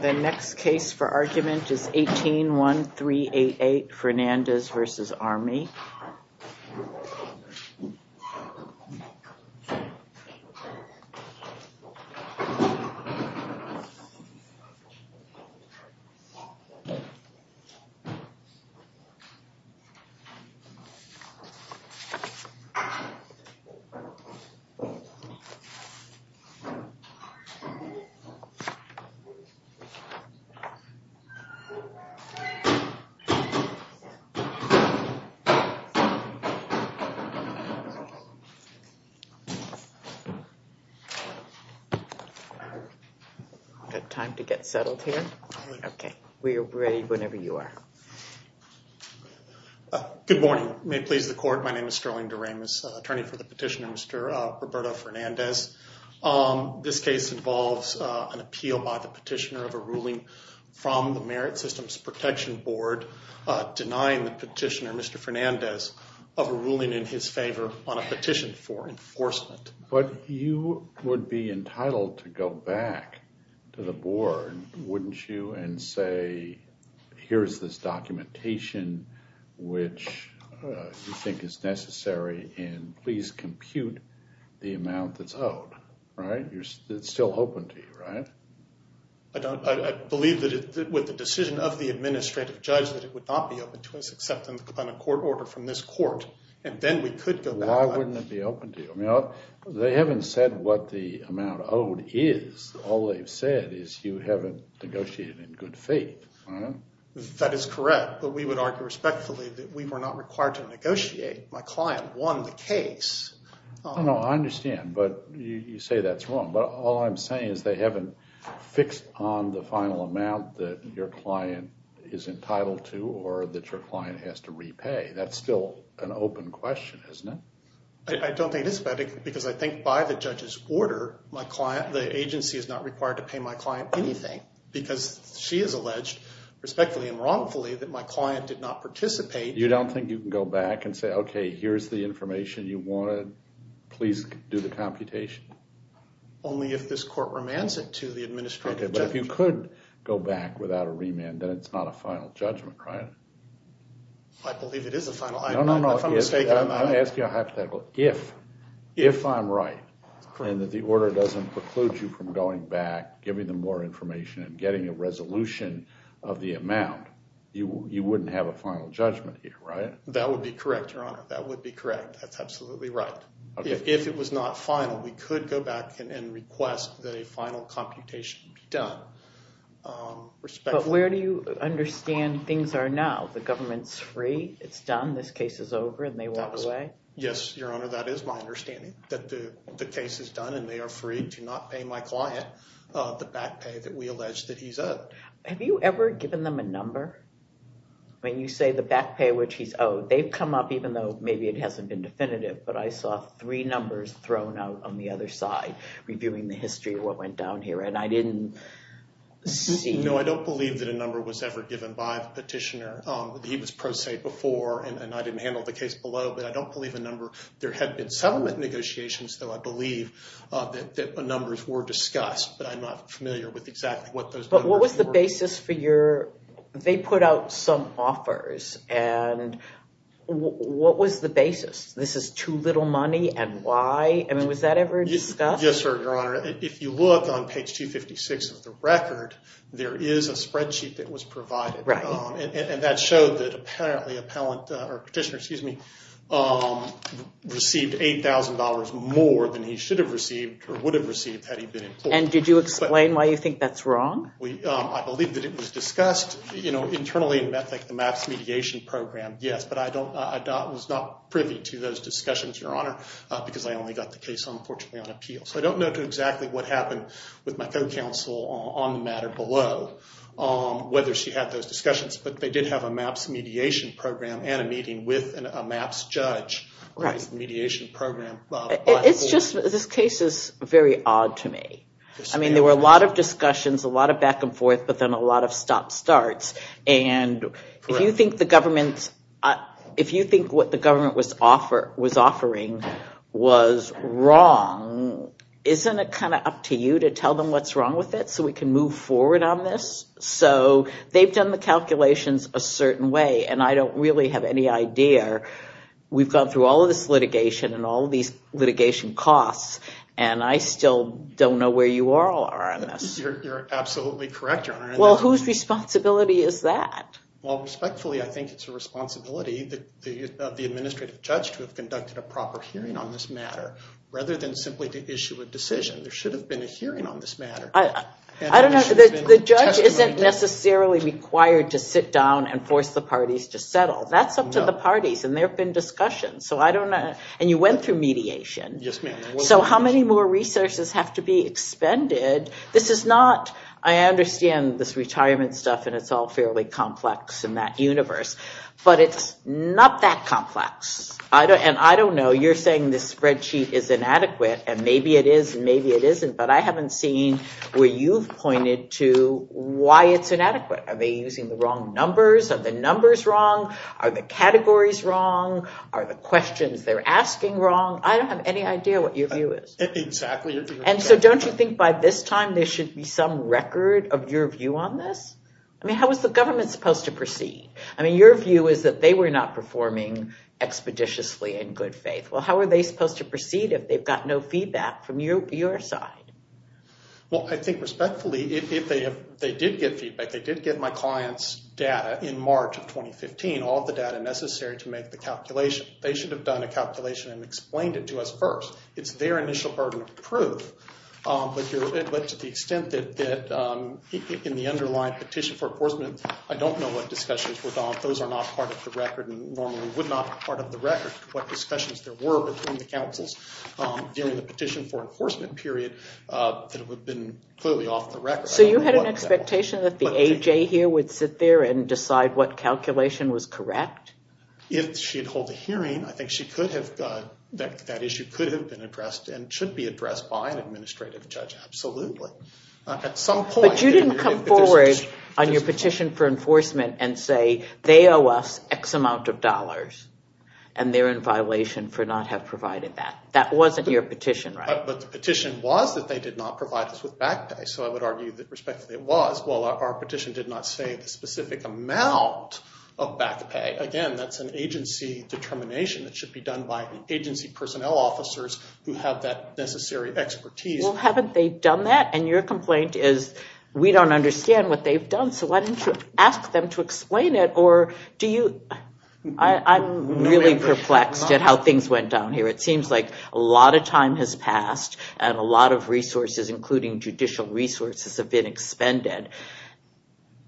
The next case for argument is 18-1388 Fernandez v. Army. Good morning, may it please the court. My name is Sterling Doremus, attorney for the petitioner, Mr. Roberto Fernandez. This case involves an appeal by the petitioner of a ruling from the Merit Systems Protection Board denying the petitioner, Mr. Fernandez, of a ruling in his favor on a petition for enforcement. But you would be entitled to go back to the board, wouldn't you, and say, here's this documentation which you think is necessary, and please compute the amount that's owed, right? It's still open to you, right? I believe that with the decision of the administrative judge that it would not be open to us except on a court order from this court. Why wouldn't it be open to you? They haven't said what the amount owed is. All they've said is you haven't negotiated in good faith. That is correct, but we would argue respectfully that we were not required to negotiate. My client won the case. I understand, but you say that's wrong. But all I'm saying is they haven't fixed on the final amount that your client is entitled to or that your client has to repay. That's still an open question, isn't it? I don't think it is, because I think by the judge's order, the agency is not required to pay my client anything because she has alleged, respectfully and wrongfully, that my client did not participate. You don't think you can go back and say, okay, here's the information you wanted. Please do the computation. Only if this court remands it to the administrative judge. Okay, but if you could go back without a remand, then it's not a final judgment, right? I believe it is a final. I'm going to ask you hypothetically. If I'm right and the order doesn't preclude you from going back, giving them more information, and getting a resolution of the amount, you wouldn't have a final judgment here, right? That would be correct, Your Honor. That would be correct. That's absolutely right. If it was not final, we could go back and request that a final computation be done. But where do you understand things are now? The government's free, it's done, this case is over, and they walk away? Yes, Your Honor, that is my understanding, that the case is done and they are free to not pay my client the back pay that we allege that he's owed. Have you ever given them a number? When you say the back pay which he's owed, they've come up, even though maybe it hasn't been definitive, but I saw three numbers thrown out on the other side, reviewing the history of what went down here. No, I don't believe that a number was ever given by the petitioner. He was pro se before, and I didn't handle the case below, but I don't believe a number. There have been settlement negotiations, though I believe that numbers were discussed, but I'm not familiar with exactly what those numbers were. But what was the basis for your, they put out some offers, and what was the basis? This is too little money, and why? I mean, was that ever discussed? Yes, sir, Your Honor. If you look on page 256 of the record, there is a spreadsheet that was provided, and that showed that apparently a petitioner received $8,000 more than he should have received or would have received had he been employed. And did you explain why you think that's wrong? I believe that it was discussed internally in the MAPS mediation program, yes, but I was not privy to those discussions, Your Honor, because I only got the case, unfortunately, on appeal. So I don't know exactly what happened with my co-counsel on the matter below, whether she had those discussions, but they did have a MAPS mediation program and a meeting with a MAPS judge. It's just, this case is very odd to me. I mean, there were a lot of discussions, a lot of back and forth, but then a lot of stop-starts, and if you think the government, if you think what the government was offering was wrong, isn't it kind of up to you to tell them what's wrong with it so we can move forward on this? So they've done the calculations a certain way, and I don't really have any idea. We've gone through all of this litigation and all of these litigation costs, and I still don't know where you all are on this. You're absolutely correct, Your Honor. Well, whose responsibility is that? Well, respectfully, I think it's a responsibility of the administrative judge to have conducted a proper hearing on this matter, rather than simply to issue a decision. There should have been a hearing on this matter. I don't know. The judge isn't necessarily required to sit down and force the parties to settle. That's up to the parties, and there have been discussions, so I don't know. And you went through mediation. Yes, ma'am. where you've pointed to why it's inadequate. Are they using the wrong numbers? Are the numbers wrong? Are the categories wrong? Are the questions they're asking wrong? I don't have any idea what your view is. Exactly. And so don't you think by this time there should be some record of your view on this? I mean, how is the government supposed to proceed? I mean, your view is that they were not performing expeditiously in good faith. Well, how are they supposed to proceed if they've got no feedback from your side? Well, I think respectfully, if they did get feedback, they did get my client's data in March of 2015, all the data necessary to make the calculation. They should have done a calculation and explained it to us first. It's their initial burden of proof, but to the extent that in the underlying petition for enforcement, I don't know what discussions were gone. Those are not part of the record and normally would not be part of the record, what discussions there were between the councils during the petition for enforcement period that would have been clearly off the record. So you had an expectation that the AJ here would sit there and decide what calculation was correct? If she'd hold a hearing, I think that issue could have been addressed and should be addressed by an administrative judge, absolutely. But you didn't come forward on your petition for enforcement and say they owe us X amount of dollars and they're in violation for not having provided that. That wasn't your petition, right? But the petition was that they did not provide us with back pay, so I would argue that respectfully it was. Well, our petition did not say the specific amount of back pay. Again, that's an agency determination that should be done by agency personnel officers who have that necessary expertise. Well, haven't they done that? And your complaint is we don't understand what they've done, so why don't you ask them to explain it or do you... I'm really perplexed at how things went down here. It seems like a lot of time has passed and a lot of resources, including judicial resources, have been expended.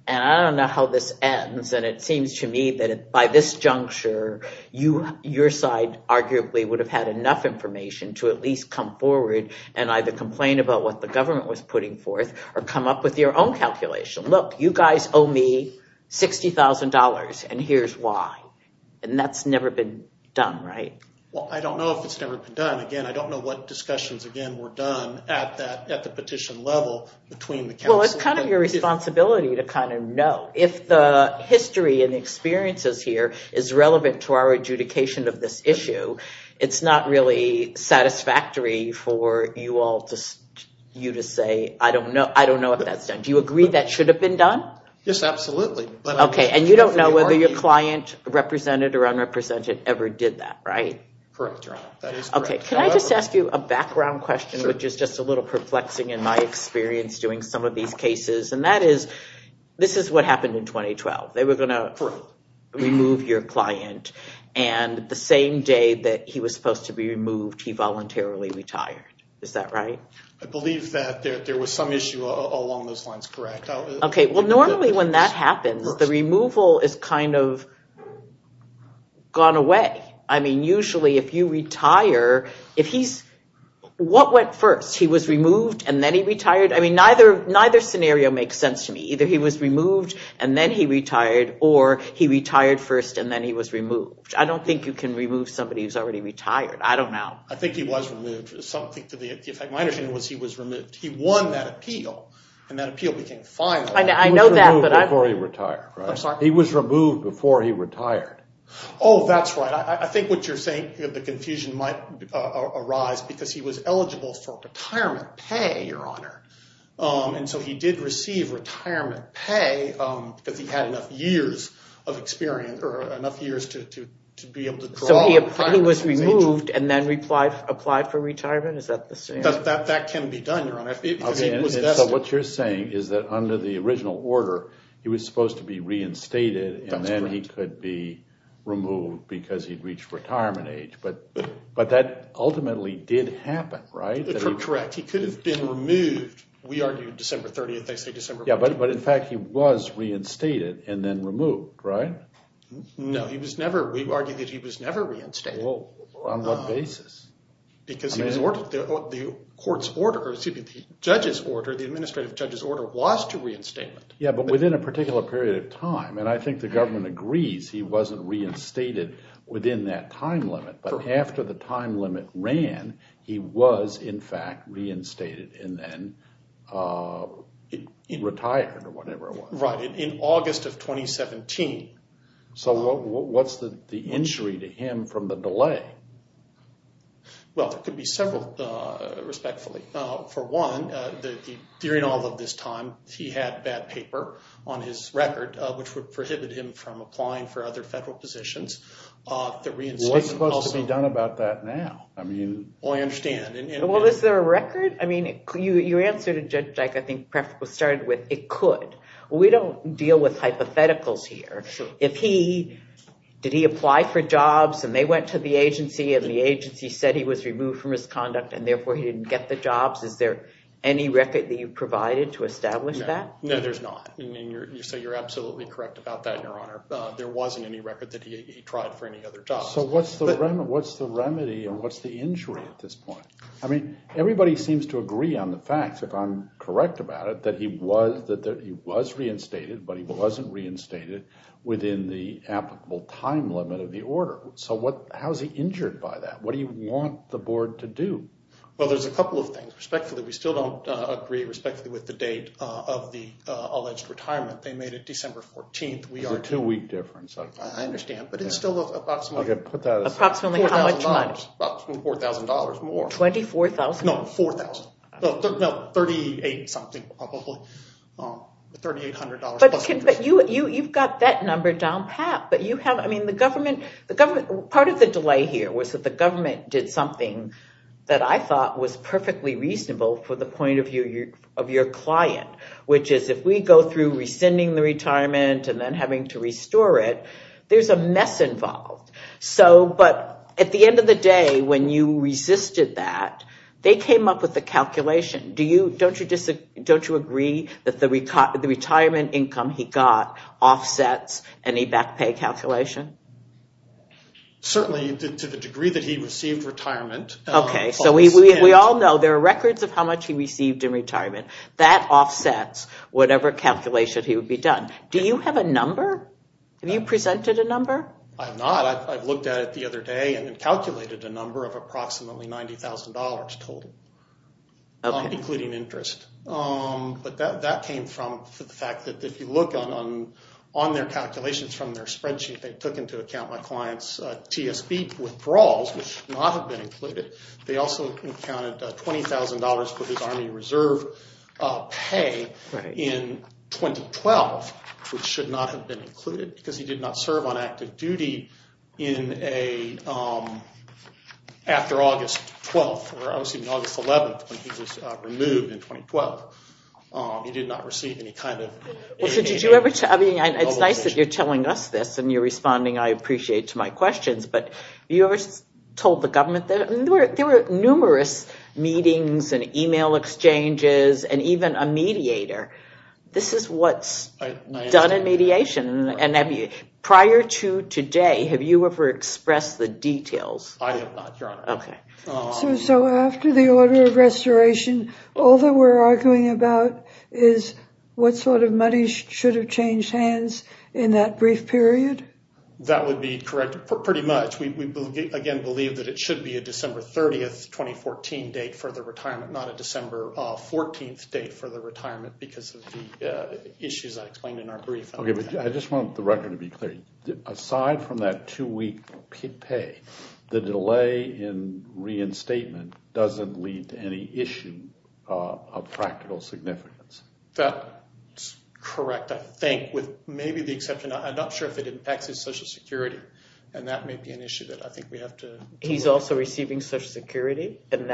And I don't know how this ends and it seems to me that by this juncture, your side arguably would have had enough information to at least come forward and either complain about what the government was putting forth or come up with your own calculation. Look, you guys owe me $60,000 and here's why. And that's never been done, right? Well, I don't know if it's never been done. Again, I don't know what discussions, again, were done at the petition level between the counsel... Well, it's kind of your responsibility to kind of know. If the history and experiences here is relevant to our adjudication of this issue, it's not really satisfactory for you to say, I don't know if that's done. Do you agree that should have been done? Yes, absolutely. Okay, and you don't know whether your client, represented or unrepresented, ever did that, right? Correct, Your Honor. That is correct. Okay, can I just ask you a background question, which is just a little perplexing in my experience doing some of these cases? And that is, this is what happened in 2012. They were going to remove your client and the same day that he was supposed to be removed, he voluntarily retired. Is that right? I believe that there was some issue along those lines, correct. Okay, well normally when that happens, the removal is kind of gone away. I mean, usually if you retire, if he's... What went first? He was removed and then he retired? I mean, neither scenario makes sense to me. Either he was removed and then he retired, or he retired first and then he was removed. I don't think you can remove somebody who's already retired. I don't know. I think he was removed. Something to the effect of my understanding was he was removed. He won that appeal, and that appeal became final. I know that, but I... He was removed before he retired, right? I'm sorry? He was removed before he retired. Oh, that's right. I think what you're saying, the confusion might arise because he was eligible for retirement pay, Your Honor. And so he did receive retirement pay because he had enough years of experience, or enough years to be able to draw on prior to his age. So he was removed and then applied for retirement? Is that the same? That can be done, Your Honor. Okay, and so what you're saying is that under the original order, he was supposed to be reinstated, and then he could be removed because he'd reached retirement age. But that ultimately did happen, right? Correct. He could have been removed. We argued December 30th. They say December 4th. Yeah, but in fact, he was reinstated and then removed, right? No, we argued that he was never reinstated. On what basis? Because the court's order, excuse me, the judge's order, the administrative judge's order was to reinstate him. Yeah, but within a particular period of time, and I think the government agrees he wasn't reinstated within that time limit. But after the time limit ran, he was, in fact, reinstated and then retired or whatever it was. Right, in August of 2017. So what's the injury to him from the delay? Well, there could be several, respectfully. For one, during all of this time, he had bad paper on his record, which would prohibit him from applying for other federal positions. What's supposed to be done about that now? Well, I understand. Well, is there a record? I mean, your answer to Judge Dyke, I think, perhaps was started with, it could. We don't deal with hypotheticals here. If he, did he apply for jobs and they went to the agency and the agency said he was removed from his conduct and therefore he didn't get the jobs, is there any record that you provided to establish that? No, there's not. You say you're absolutely correct about that, Your Honor. There wasn't any record that he tried for any other jobs. So what's the remedy and what's the injury at this point? I mean, everybody seems to agree on the facts, if I'm correct about it, that he was reinstated, but he wasn't reinstated within the applicable time limit of the order. So how is he injured by that? What do you want the Board to do? Well, there's a couple of things. Respectfully, we still don't agree respectfully with the date of the alleged retirement. They made it December 14th. There's a two-week difference. I understand, but it's still approximately $4,000 more. $24,000? No, $4,000. No, $3,800 something probably. $3,800 plus interest. But you've got that number down pat. Part of the delay here was that the government did something that I thought was perfectly reasonable for the point of view of your client, which is if we go through rescinding the retirement and then having to restore it, there's a mess involved. But at the end of the day, when you resisted that, they came up with a calculation. Don't you agree that the retirement income he got offsets any back pay calculation? Certainly, to the degree that he received retirement. Okay, so we all know there are records of how much he received in retirement. That offsets whatever calculation he would be done. Do you have a number? Have you presented a number? I have not. I've looked at it the other day and calculated a number of approximately $90,000 total, including interest. But that came from the fact that if you look on their calculations from their spreadsheet, they took into account my client's TSP withdrawals, which should not have been included. They also accounted $20,000 for his Army Reserve pay in 2012, which should not have been included because he did not serve on active duty after August 12th or August 11th when he was removed in 2012. It's nice that you're telling us this and you're responding, I appreciate, to my questions, but you ever told the government? There were numerous meetings and email exchanges and even a mediator. This is what's done in mediation. Prior to today, have you ever expressed the details? So after the order of restoration, all that we're arguing about is what sort of money should have changed hands in that brief period? That would be correct, pretty much. We again believe that it should be a December 30th, 2014 date for the retirement, not a December 14th date for the retirement because of the issues I explained in our brief. Okay, but I just want the record to be clear. Aside from that two-week pay, the delay in reinstatement doesn't lead to any issue of practical significance? That's correct, I think, with maybe the exception, I'm not sure if it impacts his Social Security, and that may be an issue that I think we have to... He's also receiving Social Security? When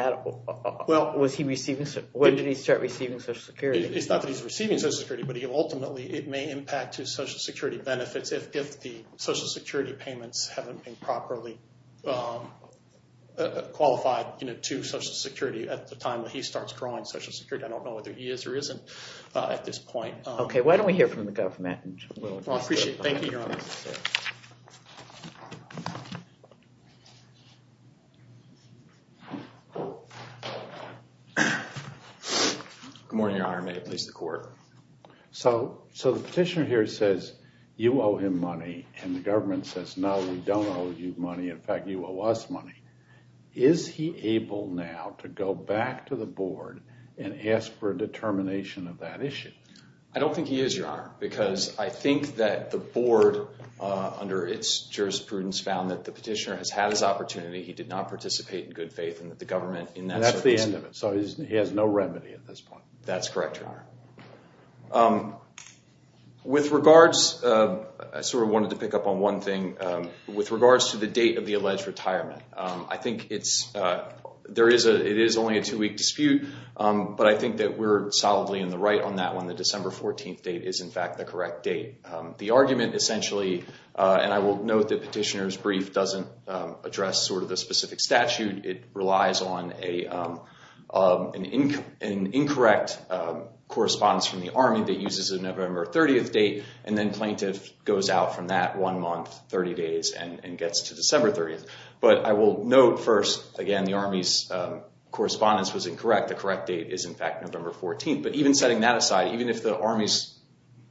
did he start receiving Social Security? It's not that he's receiving Social Security, but ultimately it may impact his Social Security benefits if the Social Security payments haven't been properly qualified to Social Security at the time that he starts drawing Social Security. I don't know whether he is or isn't at this point. Okay, why don't we hear from the government? Well, I appreciate it. Thank you, Your Honor. Good morning, Your Honor. May it please the Court? So the petitioner here says you owe him money, and the government says no, we don't owe you money, in fact, you owe us money. Is he able now to go back to the board and ask for a determination of that issue? I don't think he is, Your Honor, because I think that the board, under its jurisprudence, found that the petitioner has had his opportunity, he did not participate in good faith, and that the government... And that's the end of it, so he has no remedy at this point. That's correct, Your Honor. With regards, I sort of wanted to pick up on one thing, with regards to the date of the alleged retirement, I think it's, there is a, it is only a two-week dispute, but I think that we're solidly in the right on that one, the December 14th date is in fact the correct date. The argument, essentially, and I will note that petitioner's brief doesn't address sort of the specific statute, it relies on an incorrect correspondence from the Army that uses a November 30th date, and then plaintiff goes out from that one month, 30 days, and gets to December 30th. But I will note first, again, the Army's correspondence was incorrect, the correct date is in fact November 14th, but even setting that aside, even if the Army's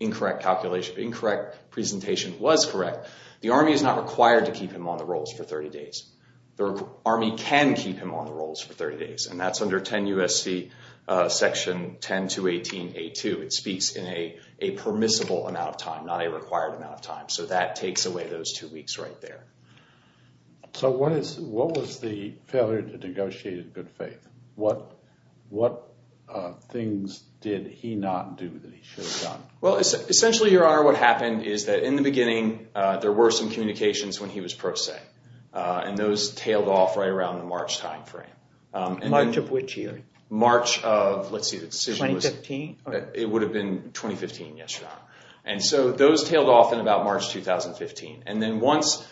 incorrect calculation, incorrect presentation was correct, the Army is not required to keep him on the rolls for 30 days. The Army can keep him on the rolls for 30 days, and that's under 10 U.S.C. section 10218a2, it speaks in a permissible amount of time, not a required amount of time, so that takes away those two weeks right there. So what is, what was the failure to negotiate in good faith? What, what things did he not do that he should have done? Well, essentially, Your Honor, what happened is that in the beginning, there were some communications when he was pro se, and those tailed off right around the March timeframe. March of which year? March of, let's see, the decision was... 2015? It would have been 2015, yes, Your Honor. And so those tailed off in about March 2015, and then once,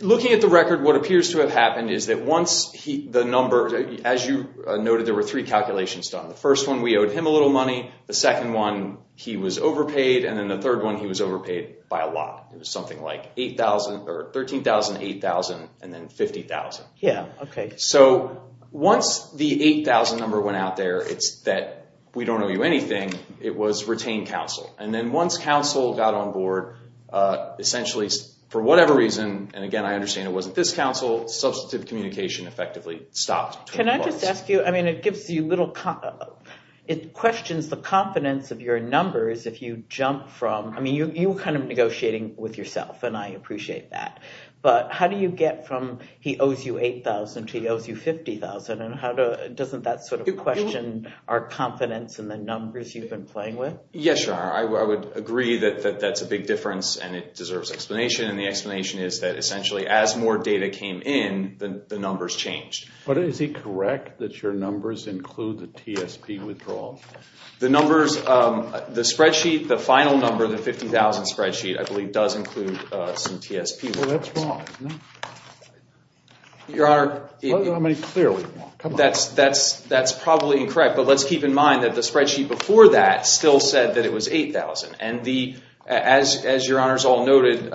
looking at the record, what appears to have happened is that once the number, as you noted, there were three calculations done. The first one, we owed him a little money, the second one, he was overpaid, and then the third one, he was overpaid by a lot. It was something like 8,000, or 13,000, 8,000, and then 50,000. Yeah, okay. So once the 8,000 number went out there, it's that we don't owe you anything, it was retained counsel. And then once counsel got on board, essentially, for whatever reason, and again, I understand it wasn't this counsel, substantive communication effectively stopped. Can I just ask you, I mean, it gives you little, it questions the confidence of your numbers if you jump from, I mean, you were kind of negotiating with yourself, and I appreciate that. But how do you get from he owes you 8,000 to he owes you 50,000, and doesn't that sort of question our confidence in the numbers you've been playing with? Yes, Your Honor, I would agree that that's a big difference, and it deserves explanation, and the explanation is that essentially as more data came in, the numbers changed. But is it correct that your numbers include the TSP withdrawal? The numbers, the spreadsheet, the final number, the 50,000 spreadsheet, I believe does include some TSP. Well, that's wrong. Your Honor, that's probably incorrect, but let's keep in mind that the spreadsheet before that still said that it was 8,000. And as Your Honor has all noted,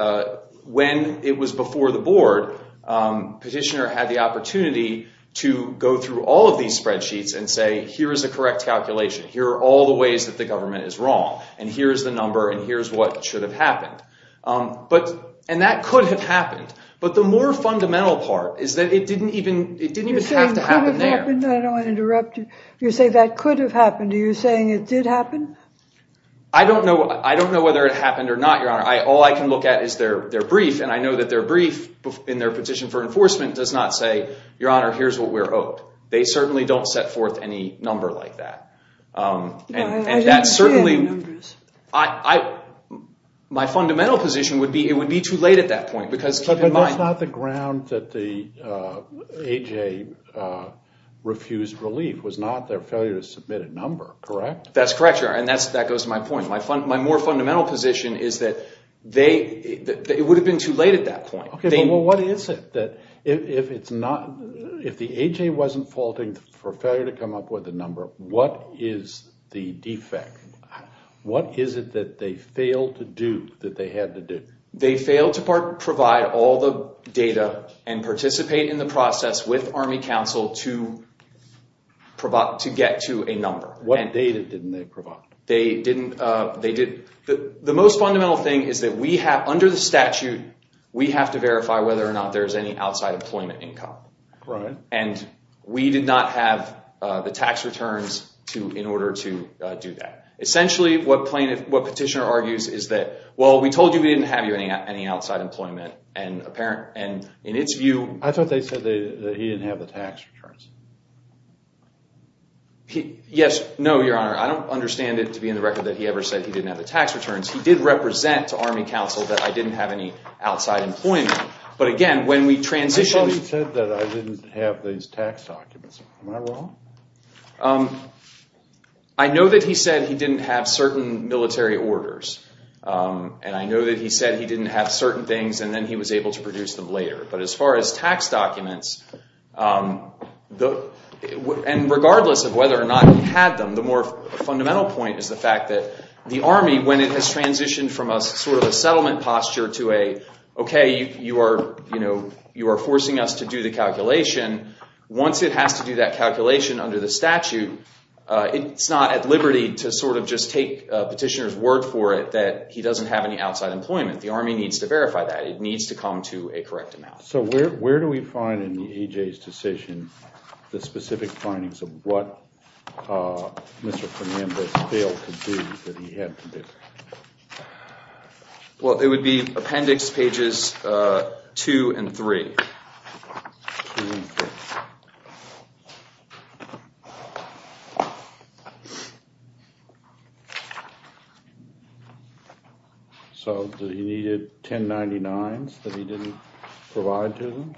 when it was before the board, petitioner had the opportunity to go through all of these spreadsheets and say, here is a correct calculation. Here are all the ways that the government is wrong, and here is the number, and here is what should have happened. And that could have happened, but the more fundamental part is that it didn't even have to happen there. I don't want to interrupt you. You say that could have happened. Are you saying it did happen? I don't know whether it happened or not, Your Honor. All I can look at is their brief, and I know that their brief in their petition for enforcement does not say, Your Honor, here's what we're owed. They certainly don't set forth any number like that. I don't see any numbers. My fundamental position would be it would be too late at that point. But that's not the ground that the AJ refused relief. It was not their failure to submit a number, correct? That's correct, Your Honor, and that goes to my point. My more fundamental position is that it would have been too late at that point. Well, what is it? If the AJ wasn't faulting for failure to come up with a number, what is the defect? What is it that they failed to do that they had to do? They failed to provide all the data and participate in the process with Army Council to get to a number. What data didn't they provide? The most fundamental thing is that we have, under the statute, we have to verify whether or not there's any outside employment income. Right. And we did not have the tax returns in order to do that. Essentially, what Petitioner argues is that, well, we told you we didn't have you any outside employment, and in its view— I thought they said that he didn't have the tax returns. Yes, no, Your Honor. I don't understand it to be in the record that he ever said he didn't have the tax returns. He did represent to Army Council that I didn't have any outside employment. But again, when we transitioned— Am I wrong? I know that he said he didn't have certain military orders. And I know that he said he didn't have certain things, and then he was able to produce them later. But as far as tax documents, and regardless of whether or not he had them, the more fundamental point is the fact that the Army, when it has transitioned from a sort of a settlement posture to a, okay, you are forcing us to do the calculation, once it has to do that calculation under the statute, it's not at liberty to sort of just take Petitioner's word for it that he doesn't have any outside employment. The Army needs to verify that. It needs to come to a correct amount. So where do we find in EJ's decision the specific findings of what Mr. Fernandez failed to do that he had to do? Well, it would be Appendix Pages 2 and 3. 2 and 3. So he needed 1099s that he didn't provide to them?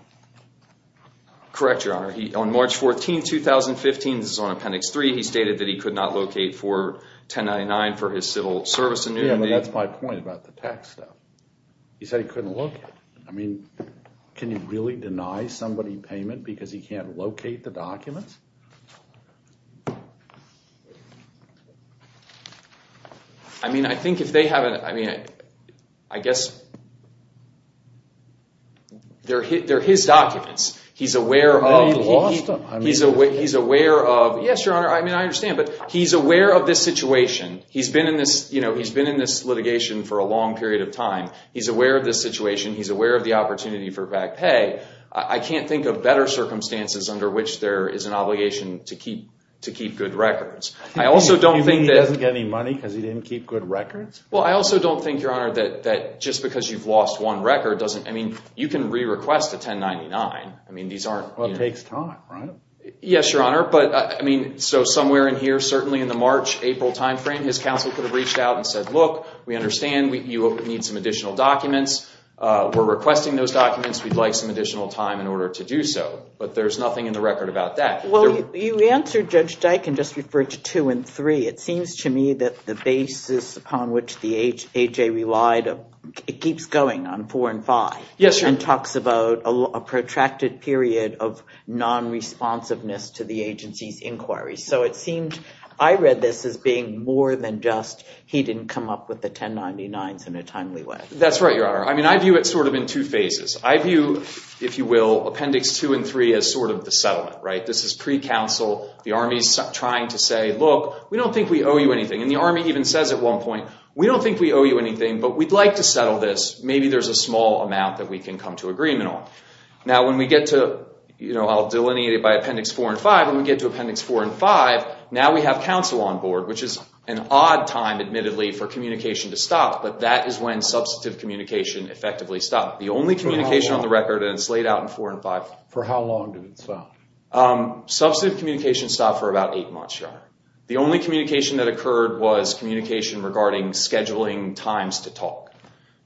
Correct, Your Honor. On March 14, 2015, this is on Appendix 3, he stated that he could not locate for 1099 for his civil service annuity. Yeah, but that's my point about the tax stuff. He said he couldn't locate. I mean, can you really deny somebody payment because he can't locate the documents? I mean, I think if they haven't, I mean, I guess they're his documents. He's aware of, he's aware of, yes, Your Honor, I mean, I understand, but he's aware of this situation. He's been in this litigation for a long period of time. He's aware of this situation. He's aware of the opportunity for back pay. I can't think of better circumstances under which there is an obligation to keep good records. You think he doesn't get any money because he didn't keep good records? Well, I also don't think, Your Honor, that just because you've lost one record doesn't, I mean, you can re-request a 1099. Well, it takes time, right? Yes, Your Honor, but I mean, so somewhere in here, certainly in the March-April timeframe, his counsel could have reached out and said, look, we understand you need some additional documents. We're requesting those documents. We'd like some additional time in order to do so, but there's nothing in the record about that. Well, you answered Judge Dike and just referred to two and three. It seems to me that the basis upon which the HA relied, it keeps going on four and five. Yes, Your Honor. And it even talks about a protracted period of non-responsiveness to the agency's inquiry. So it seemed, I read this as being more than just he didn't come up with the 1099s in a timely way. That's right, Your Honor. I mean, I view it sort of in two phases. I view, if you will, appendix two and three as sort of the settlement, right? This is pre-counsel. The Army's trying to say, look, we don't think we owe you anything. And the Army even says at one point, we don't think we owe you anything, but we'd like to settle this. Maybe there's a small amount that we can come to agreement on. Now, when we get to, you know, I'll delineate it by appendix four and five. When we get to appendix four and five, now we have counsel on board, which is an odd time, admittedly, for communication to stop, but that is when substantive communication effectively stopped. The only communication on the record, and it's laid out in four and five. For how long did it stop? Substantive communication stopped for about eight months, Your Honor. The only communication that occurred was communication regarding scheduling times to talk.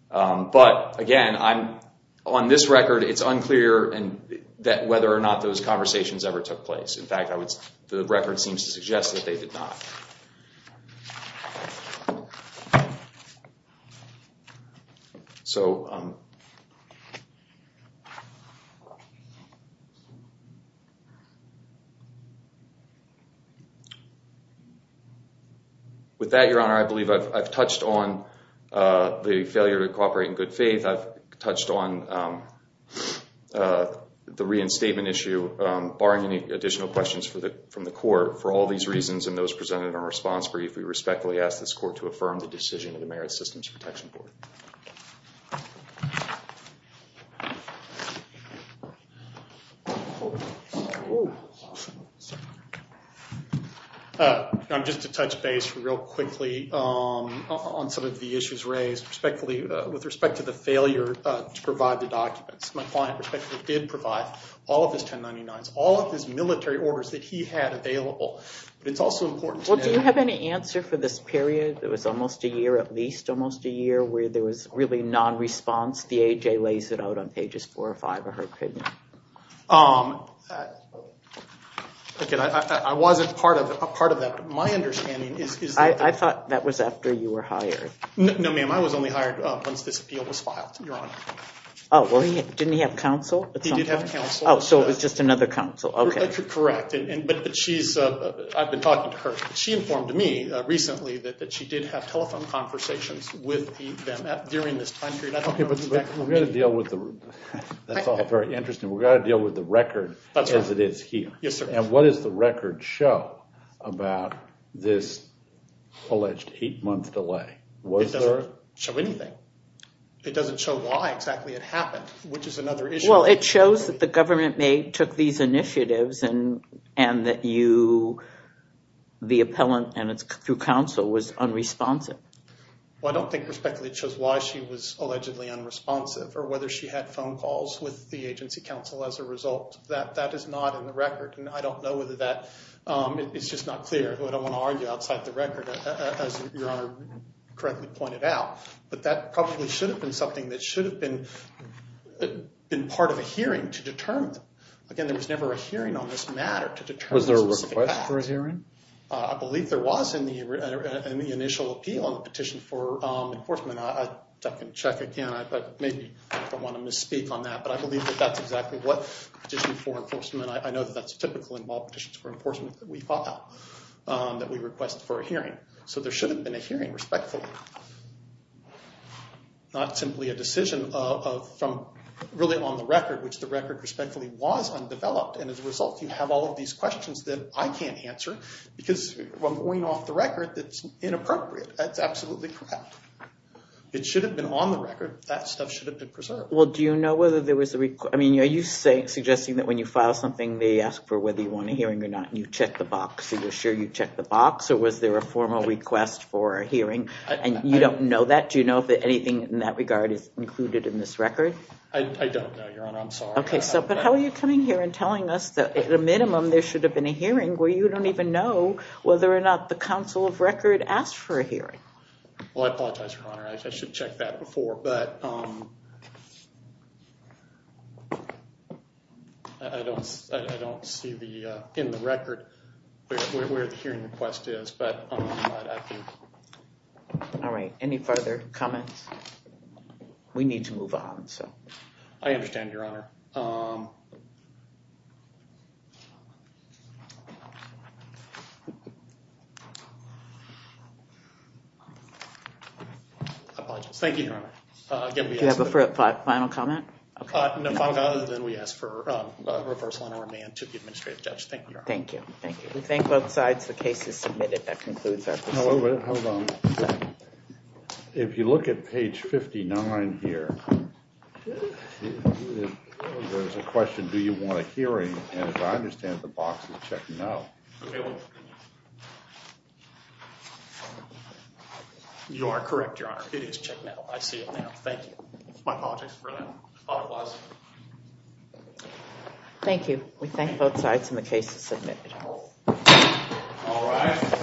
But, again, on this record, it's unclear whether or not those conversations ever took place. In fact, the record seems to suggest that they did not. With that, Your Honor, I believe I've touched on the failure to cooperate in good faith. I've touched on the reinstatement issue. Barring any additional questions from the court, for all these reasons and those presented in our response brief, we respectfully ask this court to affirm the decision of the Merit Systems Protection Board. I'm just going to touch base real quickly on some of the issues raised with respect to the failure to provide the documents. My client respectfully did provide all of his 1099s, all of his military orders that he had available. Well, do you have any answer for this period? It was almost a year, at least almost a year, where there was really non-response. The AJ lays it out on pages four or five of her opinion. I wasn't part of that. My understanding is that... I thought that was after you were hired. No, ma'am. I was only hired once this appeal was filed, Your Honor. Oh, well, didn't he have counsel? He did have counsel. Oh, so it was just another counsel. Correct. I've been talking to her. She informed me recently that she did have telephone conversations with them during this time period. Okay, but we've got to deal with the... That's all very interesting. We've got to deal with the record as it is here. Yes, sir. And what does the record show about this alleged eight-month delay? It doesn't show anything. It doesn't show why exactly it happened, which is another issue. Well, it shows that the government took these initiatives and that you, the appellant, and through counsel, was unresponsive. Well, I don't think respectfully it shows why she was allegedly unresponsive or whether she had phone calls with the agency counsel as a result. That is not in the record, and I don't know whether that... It's just not clear. I don't want to argue outside the record, as Your Honor correctly pointed out. But that probably should have been something that should have been part of a hearing to determine. Again, there was never a hearing on this matter to determine... Was there a request for a hearing? I believe there was in the initial appeal on the petition for enforcement. I can check again, but maybe I don't want to misspeak on that. But I believe that that's exactly what petition for enforcement... I know that that's typical in all petitions for enforcement that we file, that we request for a hearing. So there should have been a hearing, respectfully. Not simply a decision from really on the record, which the record respectfully was undeveloped. And as a result, you have all of these questions that I can't answer because I'm going off the record that's inappropriate. That's absolutely correct. It should have been on the record. That stuff should have been preserved. Well, do you know whether there was a... Are you suggesting that when you file something, they ask for whether you want a hearing or not, and you check the box? Are you sure you check the box, or was there a formal request for a hearing? And you don't know that? Do you know if anything in that regard is included in this record? I don't know, Your Honor. I'm sorry. Okay, but how are you coming here and telling us that at a minimum there should have been a hearing where you don't even know whether or not the Council of Record asked for a hearing? Well, I apologize, Your Honor. I should have checked that before. But I don't see in the record where the hearing request is, but I'm not active. All right. Any further comments? We need to move on. I understand, Your Honor. I apologize. Thank you, Your Honor. Do you have a final comment? No final comment other than we ask for a reversal on our demand to the administrative judge. Thank you, Your Honor. Thank you. We thank both sides. The case is submitted. That concludes our proceedings. Hold on. If you look at page 59 here, there's a question, do you want a hearing? And as I understand it, the box is check no. You are correct, Your Honor. It is check no. I see it now. Thank you. My apologies for that. I thought it was. Thank you. We thank both sides and the case is submitted. All rise.